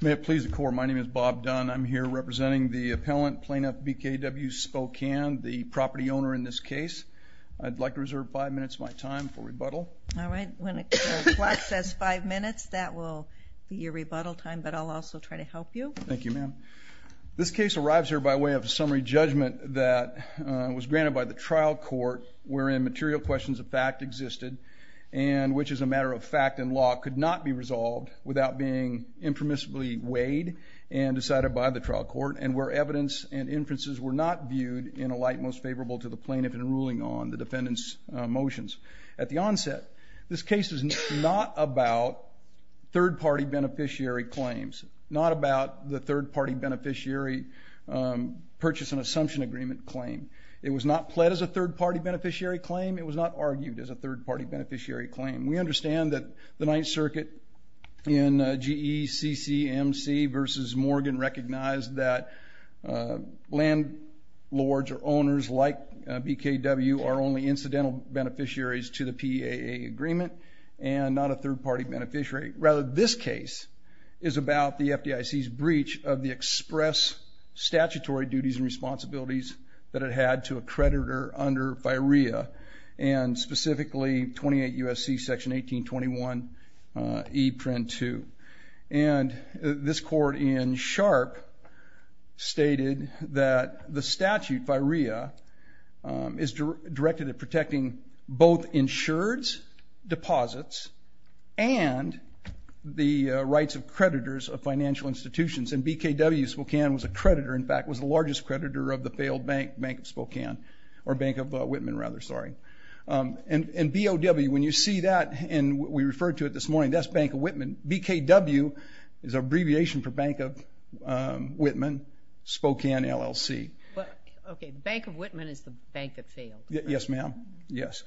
May it please the court, my name is Bob Dunn. I'm here representing the appellant, plaintiff BKWSpokane, the property owner in this case. I'd like to reserve five minutes of my time for rebuttal. All right. When the clock says five minutes, that will be your rebuttal time, but I'll also try to help you. Thank you, ma'am. This case arrives here by way of a summary judgment that was granted by the trial court, wherein material questions of fact existed, and which is a matter of fact and law, could not be resolved without being impermissibly weighed and decided by the trial court, and where evidence and inferences were not viewed in a light most favorable to the plaintiff in ruling on the defendant's motions. At the onset, this case is not about third party beneficiary claims, not about the third party beneficiary purchase and assumption agreement claim. It was not pled as a third party beneficiary claim. It was not argued as a third party beneficiary claim. We understand that the Ninth Circuit in GECCMC versus Morgan recognized that landlords or owners like BKW are only incidental beneficiaries to the PAA agreement, and not a third party beneficiary. Rather, this case is about the FDIC's breach of the express statutory duties and responsibilities that it had to a creditor under Statute Virea, and specifically 28 U.S.C. Section 1821 E. Prenn 2. And this court in Sharp stated that the statute, Virea, is directed at protecting both insureds, deposits, and the rights of creditors of financial institutions. And BKW, Spokane was a creditor, in fact, was the largest creditor of the failed bank, Bank of Spokane, or Bank of Whitman, rather, sorry. And BOW, when you see that, and we referred to it this morning, that's Bank of Whitman. BKW is an abbreviation for Bank of Whitman, Spokane LLC. Okay, Bank of Whitman is the bank that failed. Yes, ma'am. Yes.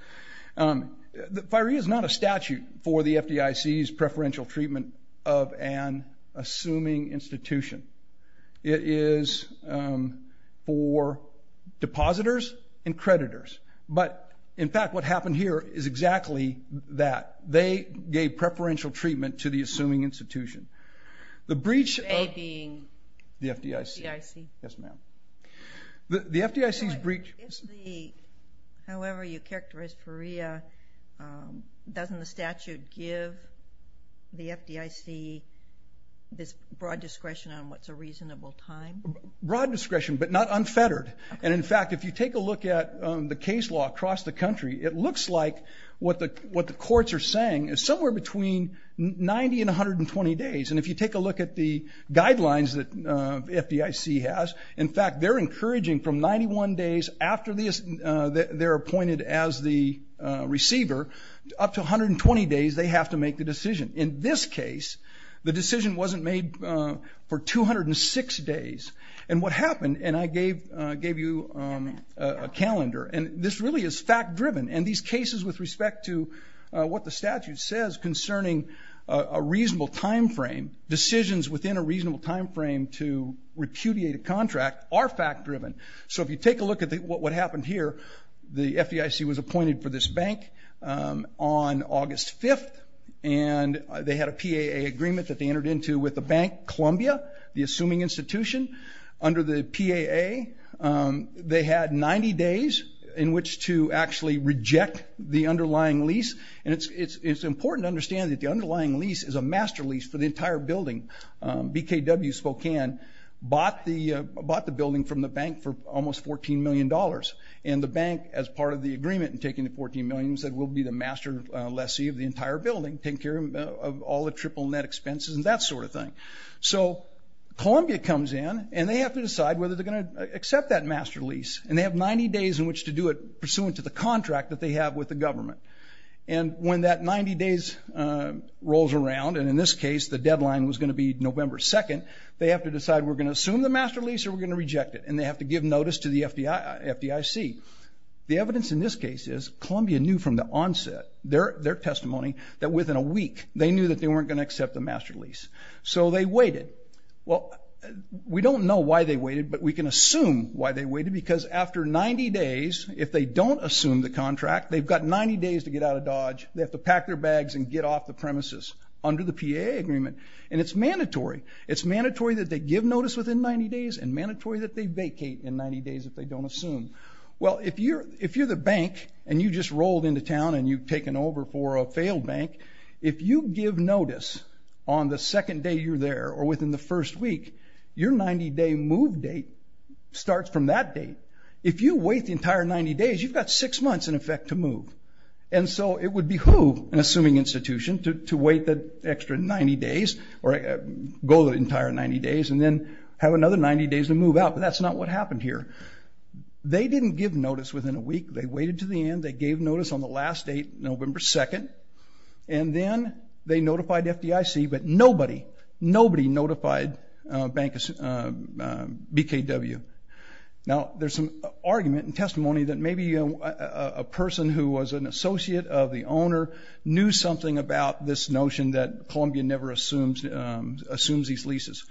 Virea is not a statute for the FDIC's preferential treatment of an assuming institution. It is for depositors and creditors. But, in fact, what happened here is exactly that. They gave preferential treatment to the assuming institution. The breach of the FDIC. Yes, ma'am. The FDIC's breach... However you characterize Virea, doesn't the statute give the FDIC this broad discretion on what's a reasonable time? Broad discretion, but not unfettered. And, in fact, if you take a look at the case law across the country, it looks like what the courts are saying is somewhere between 90 and 120 days. And if you take a look at the guidelines that FDIC has, in fact, they're encouraging from 91 days after they're appointed as the receiver, up to 120 days they have to make the decision. In this case, the decision wasn't made for 206 days. And what happened, and I gave you a calendar, and this really is fact-driven. And these cases with respect to what the statute says concerning a reasonable time frame, decisions within a reasonable time frame to repudiate a contract are fact-driven. So if you take a look at what happened here, the FDIC was appointed for this bank on August 5th, and they had a PAA agreement that they entered into with the bank, Columbia, the assuming institution. Under the PAA, they had 90 days in which to actually reject the underlying lease. And it's important to understand that the FDIC in W Spokane bought the building from the bank for almost $14 million. And the bank, as part of the agreement in taking the $14 million, said, we'll be the master lessee of the entire building, taking care of all the triple net expenses and that sort of thing. So Columbia comes in, and they have to decide whether they're going to accept that master lease. And they have 90 days in which to do it pursuant to the contract that they have with the government. And when that 90 days rolls around, and in this case, the deadline was going to be October 2nd, they have to decide, we're going to assume the master lease or we're going to reject it. And they have to give notice to the FDIC. The evidence in this case is Columbia knew from the onset, their testimony, that within a week, they knew that they weren't going to accept the master lease. So they waited. Well, we don't know why they waited, but we can assume why they waited, because after 90 days, if they don't assume the contract, they've got 90 days to get out of Dodge. They have to pack their bags and get off the premises under the PAA agreement. And it's mandatory. It's mandatory that they give notice within 90 days and mandatory that they vacate in 90 days if they don't assume. Well, if you're the bank, and you just rolled into town and you've taken over for a failed bank, if you give notice on the second day you're there or within the first week, your 90-day move date starts from that date. If you wait the entire 90 days, you've got six months, in effect, to move. And so it would behoove an assuming institution to wait the extra 90 days or go the entire 90 days and then have another 90 days to move out, but that's not what happened here. They didn't give notice within a week. They waited to the end. They gave notice on the last date, November 2nd, and then they notified FDIC, but nobody, nobody notified BKW. Now, there's some argument and testimony that maybe a person who was an associate of the owner knew something about this notion that Columbia never assumes, assumes these leases,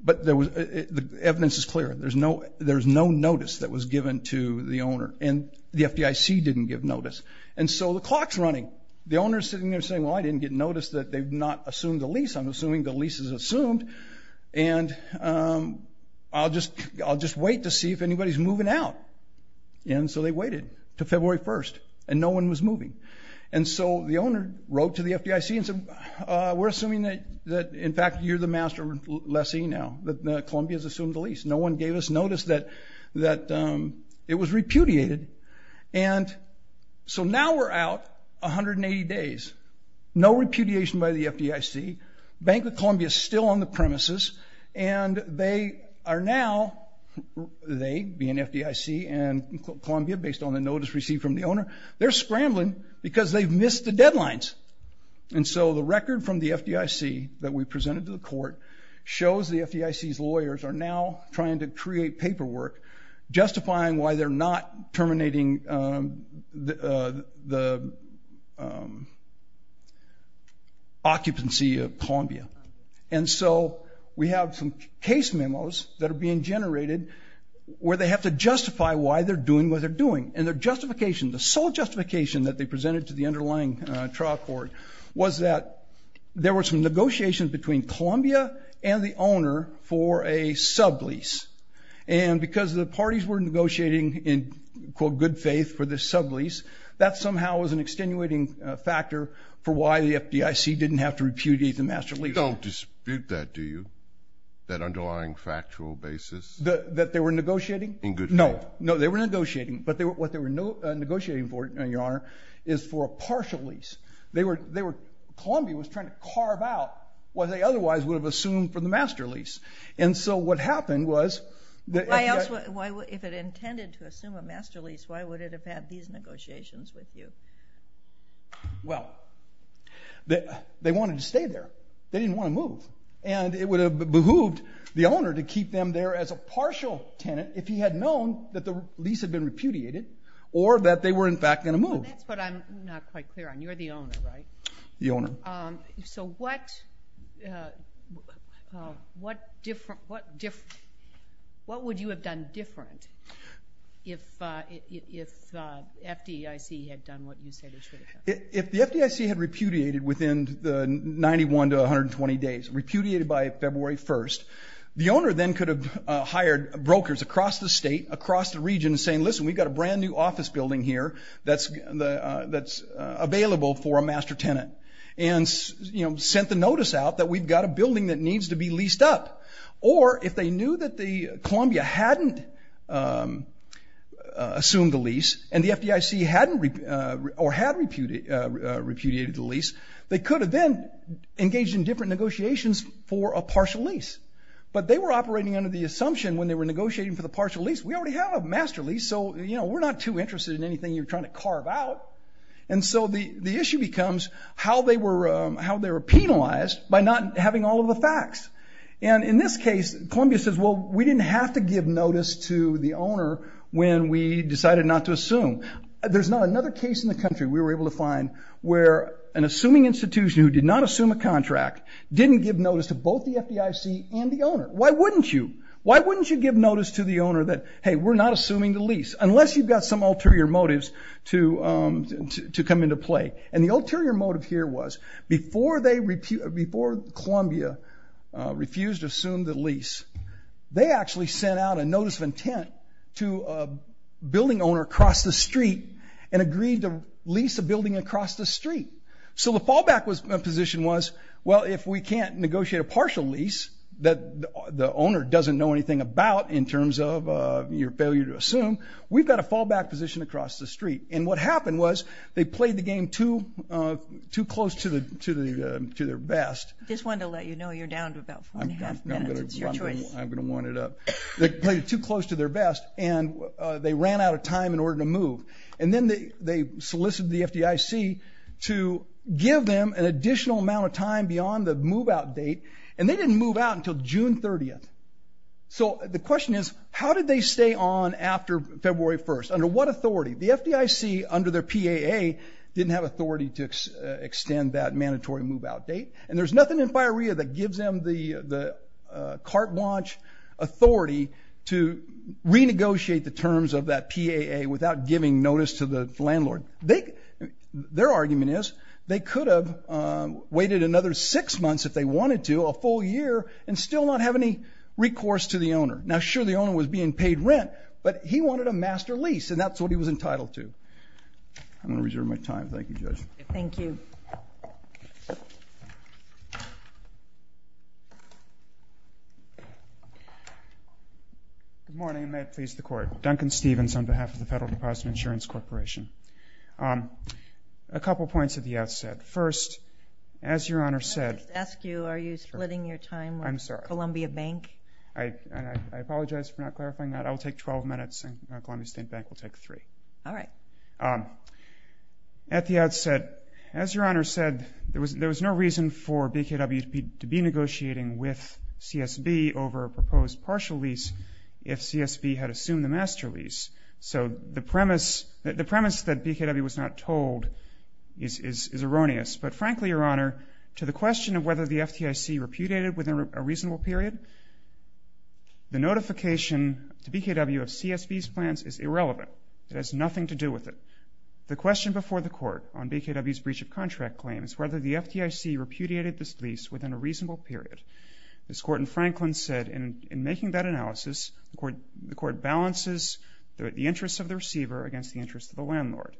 but there was, the evidence is clear. There's no, there's no notice that was given to the owner, and the FDIC didn't give notice. And so the clock's running. The owner's sitting there saying, well, I didn't get notice that they've not assumed the lease. I'm assuming the lease is assumed, and I'll just, I'll just wait to see if they do. And so they waited to February 1st, and no one was moving. And so the owner wrote to the FDIC and said, we're assuming that, that in fact, you're the master lessee now, that Columbia's assumed the lease. No one gave us notice that, that it was repudiated. And so now we're out 180 days. No repudiation by the FDIC. Bank of Columbia's still on the premises, and they are now, they being FDIC and Columbia, based on the notice received from the owner, they're scrambling because they've missed the deadlines. And so the record from the FDIC that we presented to the court shows the FDIC's lawyers are now trying to create paperwork justifying why they're not terminating the occupancy of Columbia. And so we have some case memos that are being generated where they have to justify why they're doing what they're doing. And their justification, the sole justification that they presented to the underlying trial court was that there were some negotiations between Columbia and the owner for a sublease. And because the parties were negotiating in, quote, good faith for this sublease, that somehow was an extenuating factor for why the FDIC didn't have to repudiate the master lease. You don't dispute that, do you? That underlying factual basis? That they were negotiating? In good faith. No, no, they were negotiating, but what they were negotiating for, Your Honor, is for a partial lease. They were, they were, Columbia was trying to carve out what they otherwise would have assumed for the master lease. And so what happened was... Why else would, if it intended to assume a master lease, why would it have had these negotiations with you? Well, they wanted to stay there. They didn't want to move. And it would have behooved the owner to keep them there as a partial tenant if he had known that the lease had been repudiated, or that they were in fact going to move. That's what I'm not quite clear on. You're the owner, right? The owner. So what, what different, what different, what would you have done different if, if FDIC had done what you say they should have done? If the FDIC had repudiated within the 91 to 120 days, repudiated by February 1st, the owner then could have hired brokers across the state, across the region, saying, listen, we've got a brand new office building here that's, that's available for a master tenant. And, you know, sent the notice out that we've got a building that needs to be leased up. Or, if they knew that the or had repudiated the lease, they could have then engaged in different negotiations for a partial lease. But they were operating under the assumption when they were negotiating for the partial lease, we already have a master lease, so, you know, we're not too interested in anything you're trying to carve out. And so the, the issue becomes how they were, how they were penalized by not having all of the facts. And in this case, Columbia says, well, we didn't have to give notice to the owner when we decided not to assume. There's not another case in the country we were able to find where an assuming institution who did not assume a contract didn't give notice to both the FDIC and the owner. Why wouldn't you? Why wouldn't you give notice to the owner that, hey, we're not assuming the lease, unless you've got some ulterior motives to to come into play. And the ulterior motive here was, before they, before Columbia refused to assume the lease, they actually sent out a notice of intent to a building owner across the street and agreed to lease a building across the street. So the fallback was, position was, well, if we can't negotiate a partial lease that the owner doesn't know anything about in terms of your failure to assume, we've got a fallback position across the street. And what happened was, they played the game too, too close to the, to the, to their best. Just wanted to let you know you're down to about four and a half minutes. It's your choice. I'm gonna, I'm gonna, I'm gonna warn it up. They played it too close to their best and they ran out of time in order to move. And then they, they solicited the FDIC to give them an additional amount of time beyond the move-out date. And they didn't move out until June 30th. So the question is, how did they stay on after February 1st? Under what authority? The FDIC, under their PAA, didn't have authority to extend that mandatory move-out date. And there's nothing in FIREA that gives them the, the carte blanche authority to renegotiate the terms of that PAA without giving notice to the landlord. They, their argument is, they could have waited another six months if they wanted to, a full year, and still not have any recourse to the owner. Now sure, the owner was being paid rent, but he wanted a master lease and that's what he was paying. Good morning, and may it please the Court. Duncan Stevens on behalf of the Federal Deposit Insurance Corporation. Um, a couple points at the outset. First, as Your Honor said... Can I just ask you, are you splitting your time with Columbia Bank? I'm sorry. I, I, I apologize for not clarifying that. I will take 12 minutes and Columbia State Bank will take three. All right. Um, at the outset, as Your Honor said, there was, there was no reason for BKW to be negotiating with CSB over a proposed partial lease if CSB had assumed the master lease. So the premise, the premise that BKW was not told is, is, is erroneous. But frankly, Your Honor, to the question of whether the FTIC repudiated within a reasonable period, the notification to BKW of CSB's plans is inconsistent. The question before the Court on BKW's breach of contract claim is whether the FTIC repudiated this lease within a reasonable period. As Korten Franklin said, in, in making that analysis, the Court, the Court balances the, the interests of the receiver against the interests of the landlord.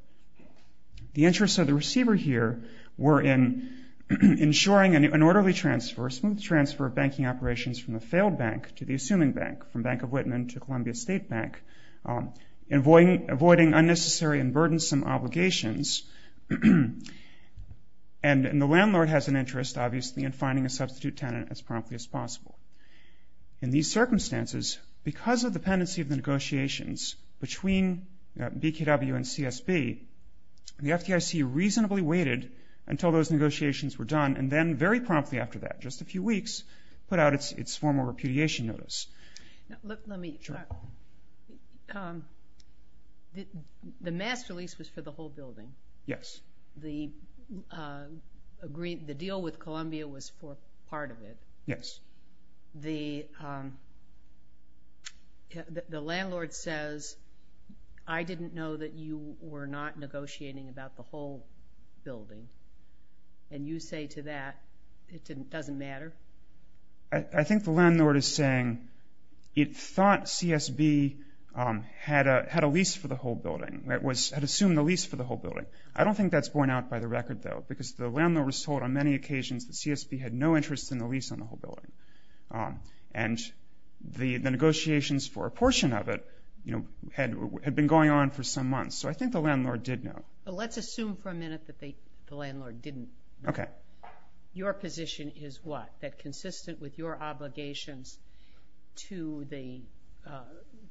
The interests of the receiver here were in ensuring an, an orderly transfer, a smooth transfer of banking operations from the failed bank to the assuming bank, from Bank of Whitman to Columbia State Bank, um, avoiding, avoiding unnecessary and burdensome obligations. And, and the landlord has an interest, obviously, in finding a substitute tenant as promptly as possible. In these circumstances, because of the pendency of the negotiations between BKW and CSB, the FTIC reasonably waited until those negotiations were done and then very promptly after that, just a few weeks, put out its, its formal repudiation notice. Now, look, let me... Sure. Um, the, the master lease was for the whole building. Yes. The, um, agreed, the deal with Columbia was for part of it. Yes. The, um, the, the landlord says, I didn't know that you were not negotiating about the whole building. And you say to that, it didn't, doesn't matter? I, I think the landlord is saying it thought CSB, um, had a, had a lease for the whole building. It was, had assumed the lease for the whole building. I don't think that's borne out by the record, though, because the landlord was told on many occasions that CSB had no interest in the lease on the whole building. Um, and the, the negotiations for a portion of it, you know, had, had been going on for some months. So I think the landlord did know. Well, let's assume for a minute that they, the landlord didn't know. Okay. That your position is what? That consistent with your obligations to the, uh,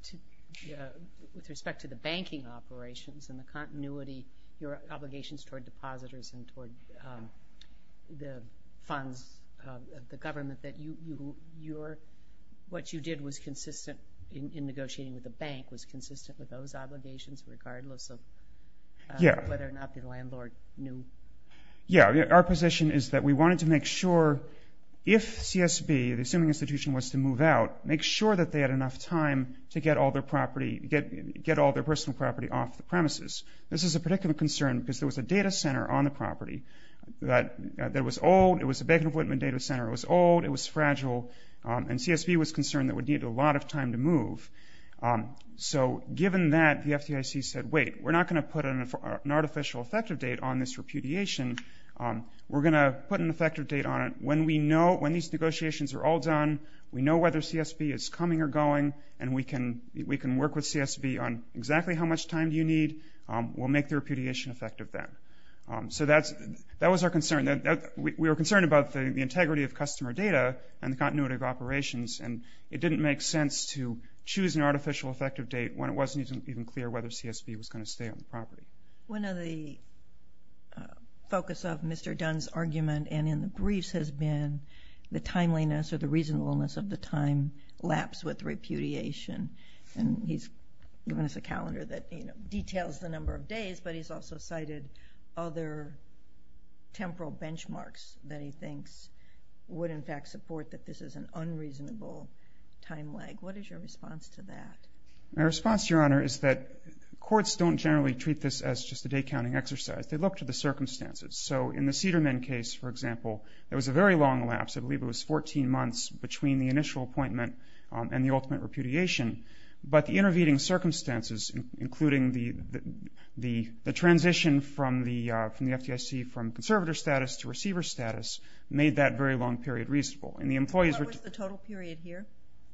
to, uh, with respect to the banking operations and the continuity, your obligations toward depositors and toward, um, the funds of the government that you, you, your, what you did was consistent in, in negotiating with the bank was consistent with those obligations regardless of whether or not the landlord knew. Yeah. Our position is that we wanted to make sure if CSB, the assuming institution was to move out, make sure that they had enough time to get all their property, get, get all their personal property off the premises. This is a particular concern because there was a data center on the property that, uh, that was old. It was a Bank of Whitman data center. It was old. It was fragile. Um, and CSB was concerned that it would need a lot of time to move. Um, so given that, the FDIC said, wait, we're not going to put an, an artificial effective date on this repudiation. Um, we're going to put an effective date on it. When we know, when these negotiations are all done, we know whether CSB is coming or going and we can, we can work with CSB on exactly how much time do you need. Um, we'll make the repudiation effective then. Um, so that's, that was our concern that we were concerned about the integrity of customer data and the continuity of operations. And it didn't make sense to choose an artificial effective date when it wasn't even clear whether CSB was going to stay on the property. One of the, uh, focus of Mr. Dunn's argument and in the briefs has been the timeliness or the reasonableness of the time lapse with repudiation. And he's given us a calendar that, you know, details the number of days, but he's also cited other temporal benchmarks that he thinks would in fact support that this is an unreasonable time lag. What is your response to that? My response, Your Honor, is that courts don't generally treat this as just a day-counting exercise. They look to the circumstances. So in the Cedar Men case, for example, it was a very long lapse. I believe it was 14 months between the initial appointment, um, and the ultimate repudiation. But the intervening circumstances, including the, the, the transition from the, uh, from the FDIC from conservator status to receiver status made that very long period reasonable. And the employees were What was the total period here?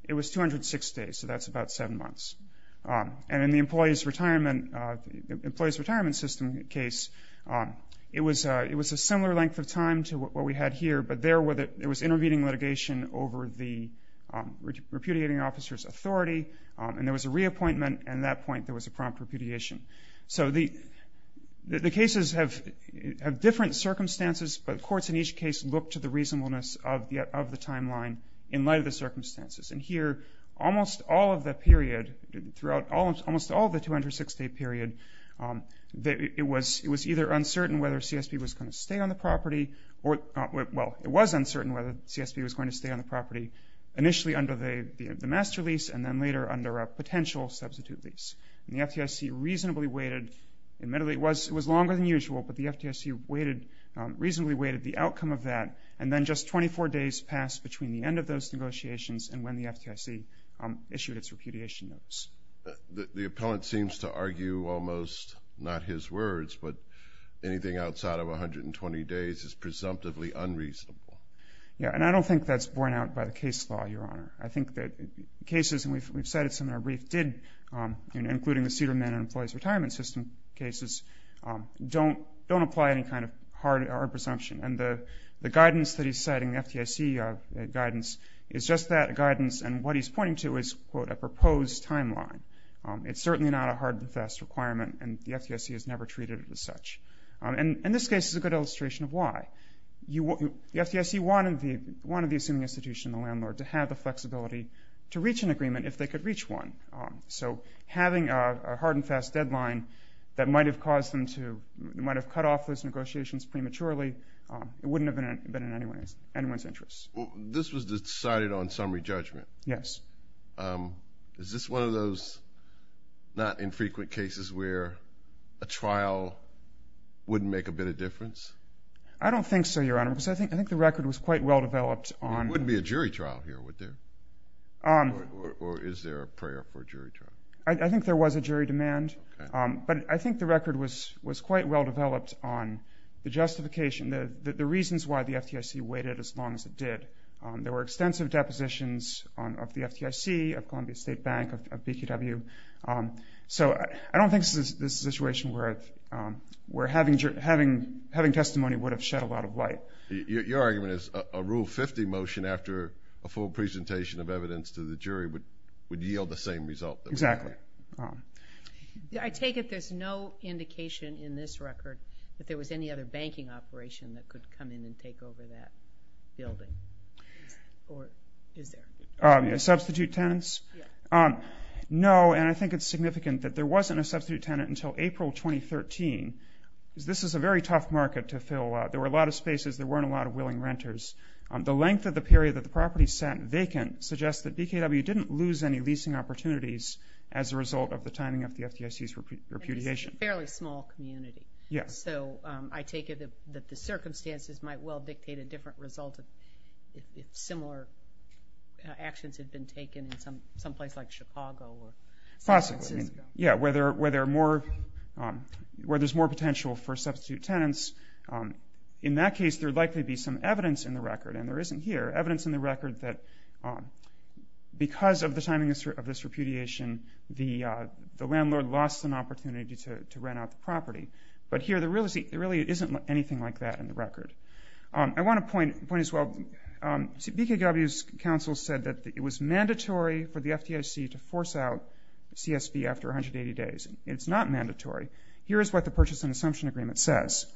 It was 206 days, so that's about seven months. Um, and in the employee's retirement, uh, employee's retirement system case, um, it was, uh, it was a similar length of time to what we had here, but there were the, it was intervening litigation over the, um, repudiating officer's authority, um, and there was a reappointment, and at that point there was a prompt repudiation. So the, the cases have, have different circumstances, but courts in each case look to the reasonableness of the, of the timeline in light of the circumstances. And here, almost all of the period, throughout all, almost all of the 206-day period, um, it was, it was either uncertain whether CSB was going to stay on the property or, well, it was uncertain whether CSB was going to stay on the property initially under the, the, the master lease and then later under a potential substitute lease. And the FDIC reasonably waited, admittedly it was, it was longer than usual, but the FDIC waited, um, reasonably waited the outcome of that and then just 24 days passed between the end of those negotiations and when the FDIC, um, issued its repudiation notice. The, the appellant seems to argue almost, not his words, but anything outside of 120 days is presumptively unreasonable. Yeah, and I don't think that's borne out by the case law, Your Honor. I think that cases, and we've, we've cited some in our brief, did, um, you know, including the Cedar Men and Employees Retirement System cases, um, don't, don't apply any kind of hard presumption and the, the guidance that he's citing, the FDIC guidance, is just that guidance and what he's pointing to is, quote, a proposed timeline. Um, it's certainly not a hard and fast requirement and the FDIC has never treated it as such. Um, and, and this case is a good illustration of why. You, the FDIC wanted the, wanted the assuming institution, the landlord, to have the flexibility to reach an agreement if they could reach one. Um, so having a, a hard and fast deadline that might have caused them to, might have cut off those negotiations prematurely, um, it wouldn't have been in anyone's, anyone's interest. Well, this was decided on summary judgment. Yes. Um, is this one of those not infrequent cases where a trial wouldn't make a bit of difference? I don't think so, Your Honor, because I think, I think the record was quite well developed on... There wouldn't be a jury trial here, would there? Um... Or, or, or is there a prayer for a jury trial? I, I think there was a jury demand. Okay. Um, but I think the record was, was quite well developed on the justification, the, the reasons why the FDIC waited as long as it did. Um, there were extensive depositions on, of the FDIC, of Columbia State Bank, of, of BQW. Um, so I, I don't think this is, this is a situation where, um, where having, having, having testimony would have shed a lot of light. Your, your argument is a, a Rule 50 motion after a full presentation of Exactly. Um, I take it there's no indication in this record that there was any other banking operation that could come in and take over that building? Or is there? Um, substitute tenants? Yeah. Um, no, and I think it's significant that there wasn't a substitute tenant until April 2013. This is a very tough market to fill. Uh, there were a lot of spaces. There weren't a lot of willing renters. Um, the length of the period that the property sat vacant suggests that as a result of the timing of the FDIC's repudiation. And it's a fairly small community. Yeah. So, um, I take it that, that the circumstances might well dictate a different result if, if similar actions had been taken in some, someplace like Chicago or San Francisco. Possibly. Yeah, where there, where there are more, um, where there's more potential for substitute tenants. Um, in that case there'd likely be some evidence in the record, and there isn't here, evidence in the record that, um, because of the timing of this repudiation, the, uh, the landlord lost an opportunity to, to rent out the property. But here there really isn't anything like that in the record. Um, I want to point, point as well, um, BKW's counsel said that it was mandatory for the FDIC to force out CSB after 180 days. It's not mandatory. Here is what the purchase and assumption agreement says.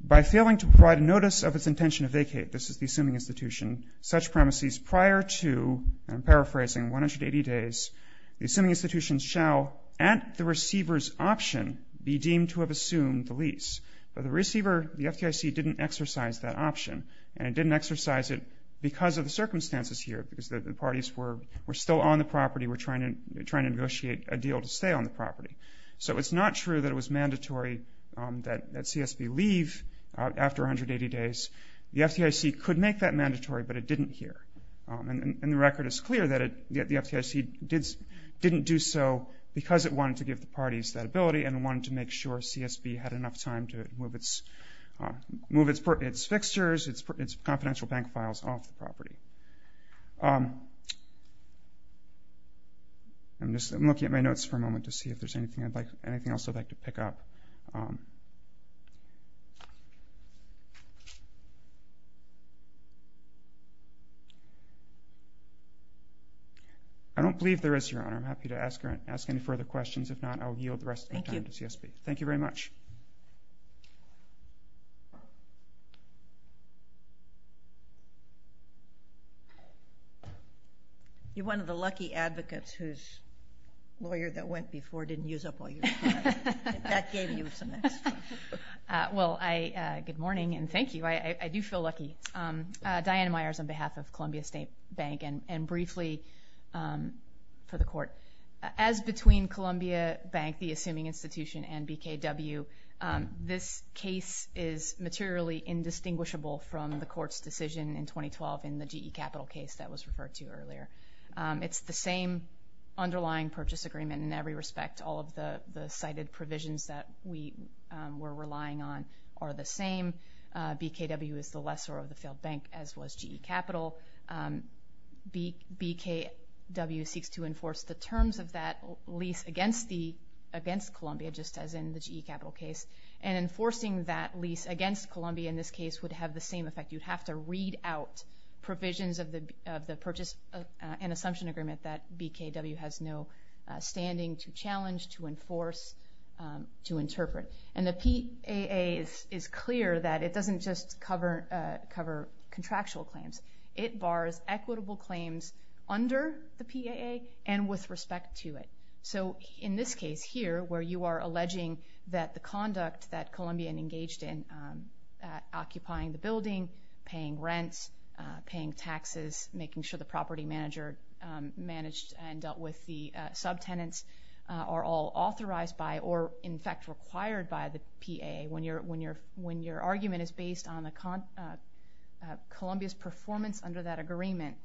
By failing to provide a notice of its intention to vacate, this is the assuming institution, such premises prior to, and I'm paraphrasing, 180 days, the assuming institution shall, at the receiver's option, be deemed to have assumed the lease. But the receiver, the FDIC, didn't exercise that option. And it didn't exercise it because of the circumstances here, because the parties were, were still on the property, were trying to, trying to negotiate a deal to stay on the property. So it's not true that it was mandatory, um, that, that CSB leave, uh, after 180 days. The FDIC could make that mandatory, but it didn't here. Um, and, and the record is clear that it, that the FDIC did, didn't do so because it wanted to give the parties that ability and wanted to make sure CSB had enough time to move its, uh, move its, its fixtures, its, its confidential bank files off the property. Um, I'm just, I'm looking at my notes for a moment to see if there's anything I'd like, anything else I'd like to pick up. Um, I don't believe there is, Your Honor. I'm happy to ask, ask any further questions. If not, I'll yield the rest of the time to CSB. Thank you. Thank you very much. You're one of the lucky advocates whose lawyer that went before didn't use up all your time. That gave you some extra. Uh, well, I, uh, good morning and thank you. I, I, I do feel lucky. Um, uh, Diana Myers on behalf of Columbia State Bank and, and briefly, um, for the Court. As between Columbia Bank, the assuming institution, and BKW, um, this case is materially indistinguishable from the Court's decision in 2012 in the GE Capital case that was referred to earlier. Um, it's the same underlying purchase agreement in every respect, all of the, the cited provisions that we, um, were relying on are the same. Uh, BKW is the lesser of the failed bank, as was GE Capital. Um, B, BKW seeks to enforce the terms of that lease against the, against Columbia, just as in the GE Capital case. And enforcing that lease against Columbia in this case would have the same effect. You'd have to read out provisions of the, of the purchase, uh, and enforce, um, to interpret. And the PAA is, is clear that it doesn't just cover, uh, cover contractual claims. It bars equitable claims under the PAA and with respect to it. So in this case here, where you are alleging that the conduct that Columbian engaged in, um, uh, occupying the building, paying rents, uh, paying taxes, making sure the property manager, um, managed and dealt with the, uh, subtenants, uh, are all authorized by or in fact required by the PAA. When you're, when you're, when your argument is based on the, uh, uh, Columbia's performance under that agreement,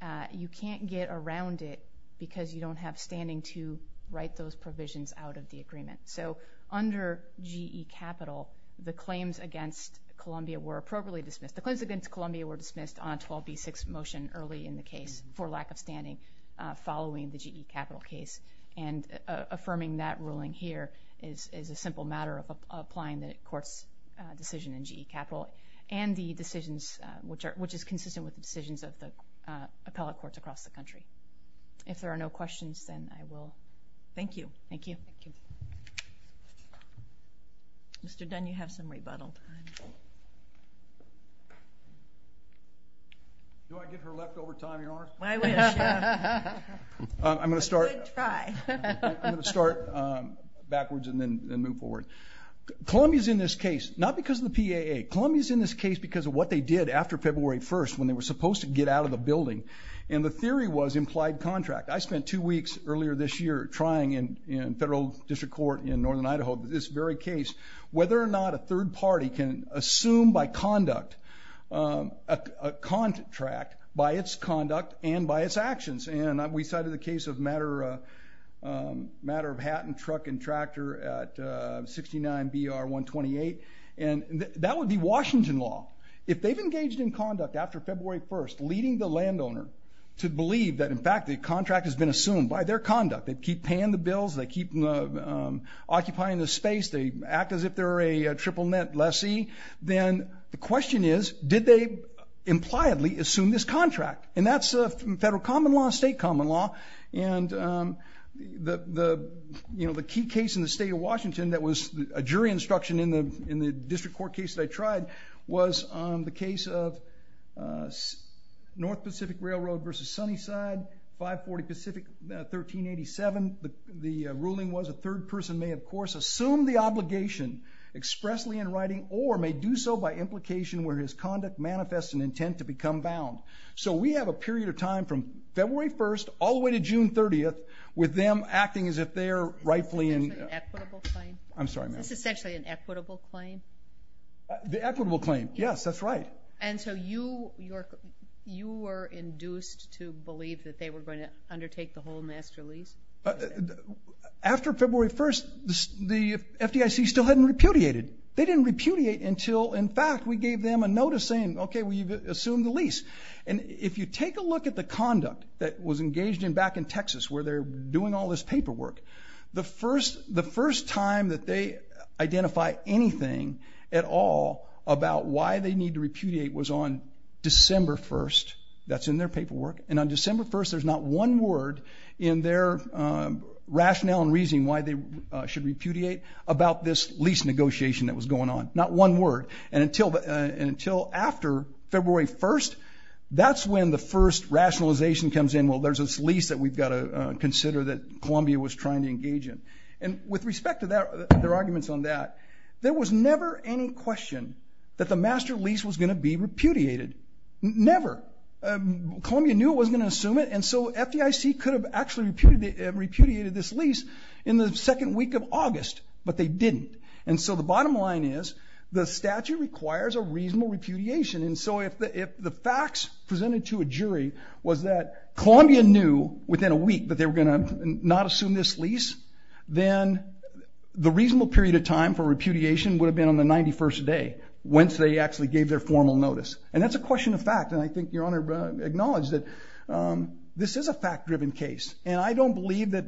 uh, you can't get around it because you don't have standing to write those provisions out of the agreement. So under GE Capital, the claims against Columbia were appropriately dismissed. The claims against Columbia were dismissed on 12B6 motion early in the GE Capital case. And, uh, affirming that ruling here is, is a simple matter of applying the court's, uh, decision in GE Capital and the decisions, uh, which are, which is consistent with the decisions of the, uh, appellate courts across the country. If there are no questions, then I will. Thank you. Thank you. Thank you. Mr. Dunn, you have some rebuttal time. Do I get her leftover time, Your Honor? My wish, yeah. I'm going to start. A good try. I'm going to start, um, backwards and then move forward. Columbia's in this case, not because of the PAA. Columbia's in this case because of what they did after February 1st when they were supposed to get out of the building. And the theory was implied contract. I spent two weeks earlier this year trying in, in federal district court in Northern Idaho, this very case, whether or not a third party can assume by conduct, um, a contract by its conduct and by its actions. And we cited the case of matter, um, matter of hat and truck and tractor at, uh, 69BR128. And that would be Washington law. If they've engaged in conduct after February 1st, leading the landowner to believe that in fact the contract has been assumed by their conduct, they keep paying the bills, they keep, um, occupying the space, they act as if they're a triple net lessee, then the question is, did they impliedly assume this contract? And that's, uh, federal common law, state common law. And, um, the, the, you know, the key case in the state of Washington that was a jury instruction in the, in the district court case that I tried was, um, the case of, uh, North Pacific Railroad versus Sunnyside, 540 Pacific, uh, 1387. The, the, uh, ruling was a third person may, of course, assume the obligation expressly in writing or may do so by implication where his conduct manifests an intent to become bound. So we have a period of time from February 1st all the way to June 30th with them acting as if they're rightfully in... Is this essentially an equitable claim? I'm sorry, ma'am. Is this essentially an equitable claim? The equitable claim, yes, that's right. And so you, you're, you were induced to believe that they were going to After February 1st, the FDIC still hadn't repudiated. They didn't repudiate until, in fact, we gave them a notice saying, okay, we've assumed the lease. And if you take a look at the conduct that was engaged in back in Texas where they're doing all this paperwork, the first, the first time that they identify anything at all about why they need to repudiate was on December 1st. That's in their paperwork. And on December 1st, there's not one word in their rationale and reason why they should repudiate about this lease negotiation that was going on. Not one word. And until, and until after February 1st, that's when the first rationalization comes in. Well, there's this lease that we've got to consider that Columbia was trying to engage in. And with respect to their arguments on that, there was never any question that the master lease was going to be repudiated. Never. Columbia knew it wasn't going to assume it. And so FDIC could have actually repudiated this lease in the second week of August, but they didn't. And so the bottom line is the statute requires a reasonable repudiation. And so if the facts presented to a jury was that Columbia knew within a week that they were going to not assume this lease, then the reasonable period of time for repudiation would have been on the 91st day whence they actually gave their formal notice. And that's a question of fact. And I think Your Honor acknowledged that this is a fact-driven case. And I don't believe that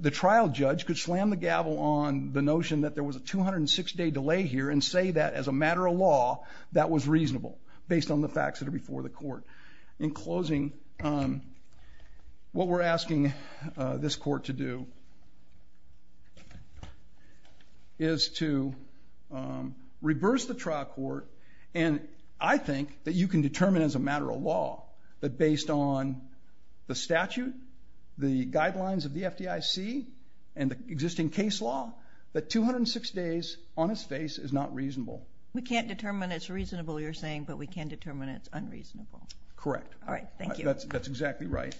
the trial judge could slam the gavel on the notion that there was a 206-day delay here and say that as a matter of law that was reasonable based on the facts that are before the court. In closing, what we're asking this court to do is to reverse the trial court. And I think that you can determine as a matter of law that based on the statute, the guidelines of the FDIC, and the existing case law, that 206 days on its face is not reasonable. We can't determine it's reasonable, you're saying, but we can determine it's unreasonable. Correct. All right, thank you. That's exactly right.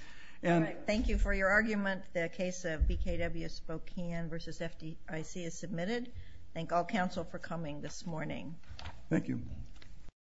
All right, thank you for your argument. The case of BKW Spokane v. FDIC is submitted. Thank all counsel for coming this morning. Thank you.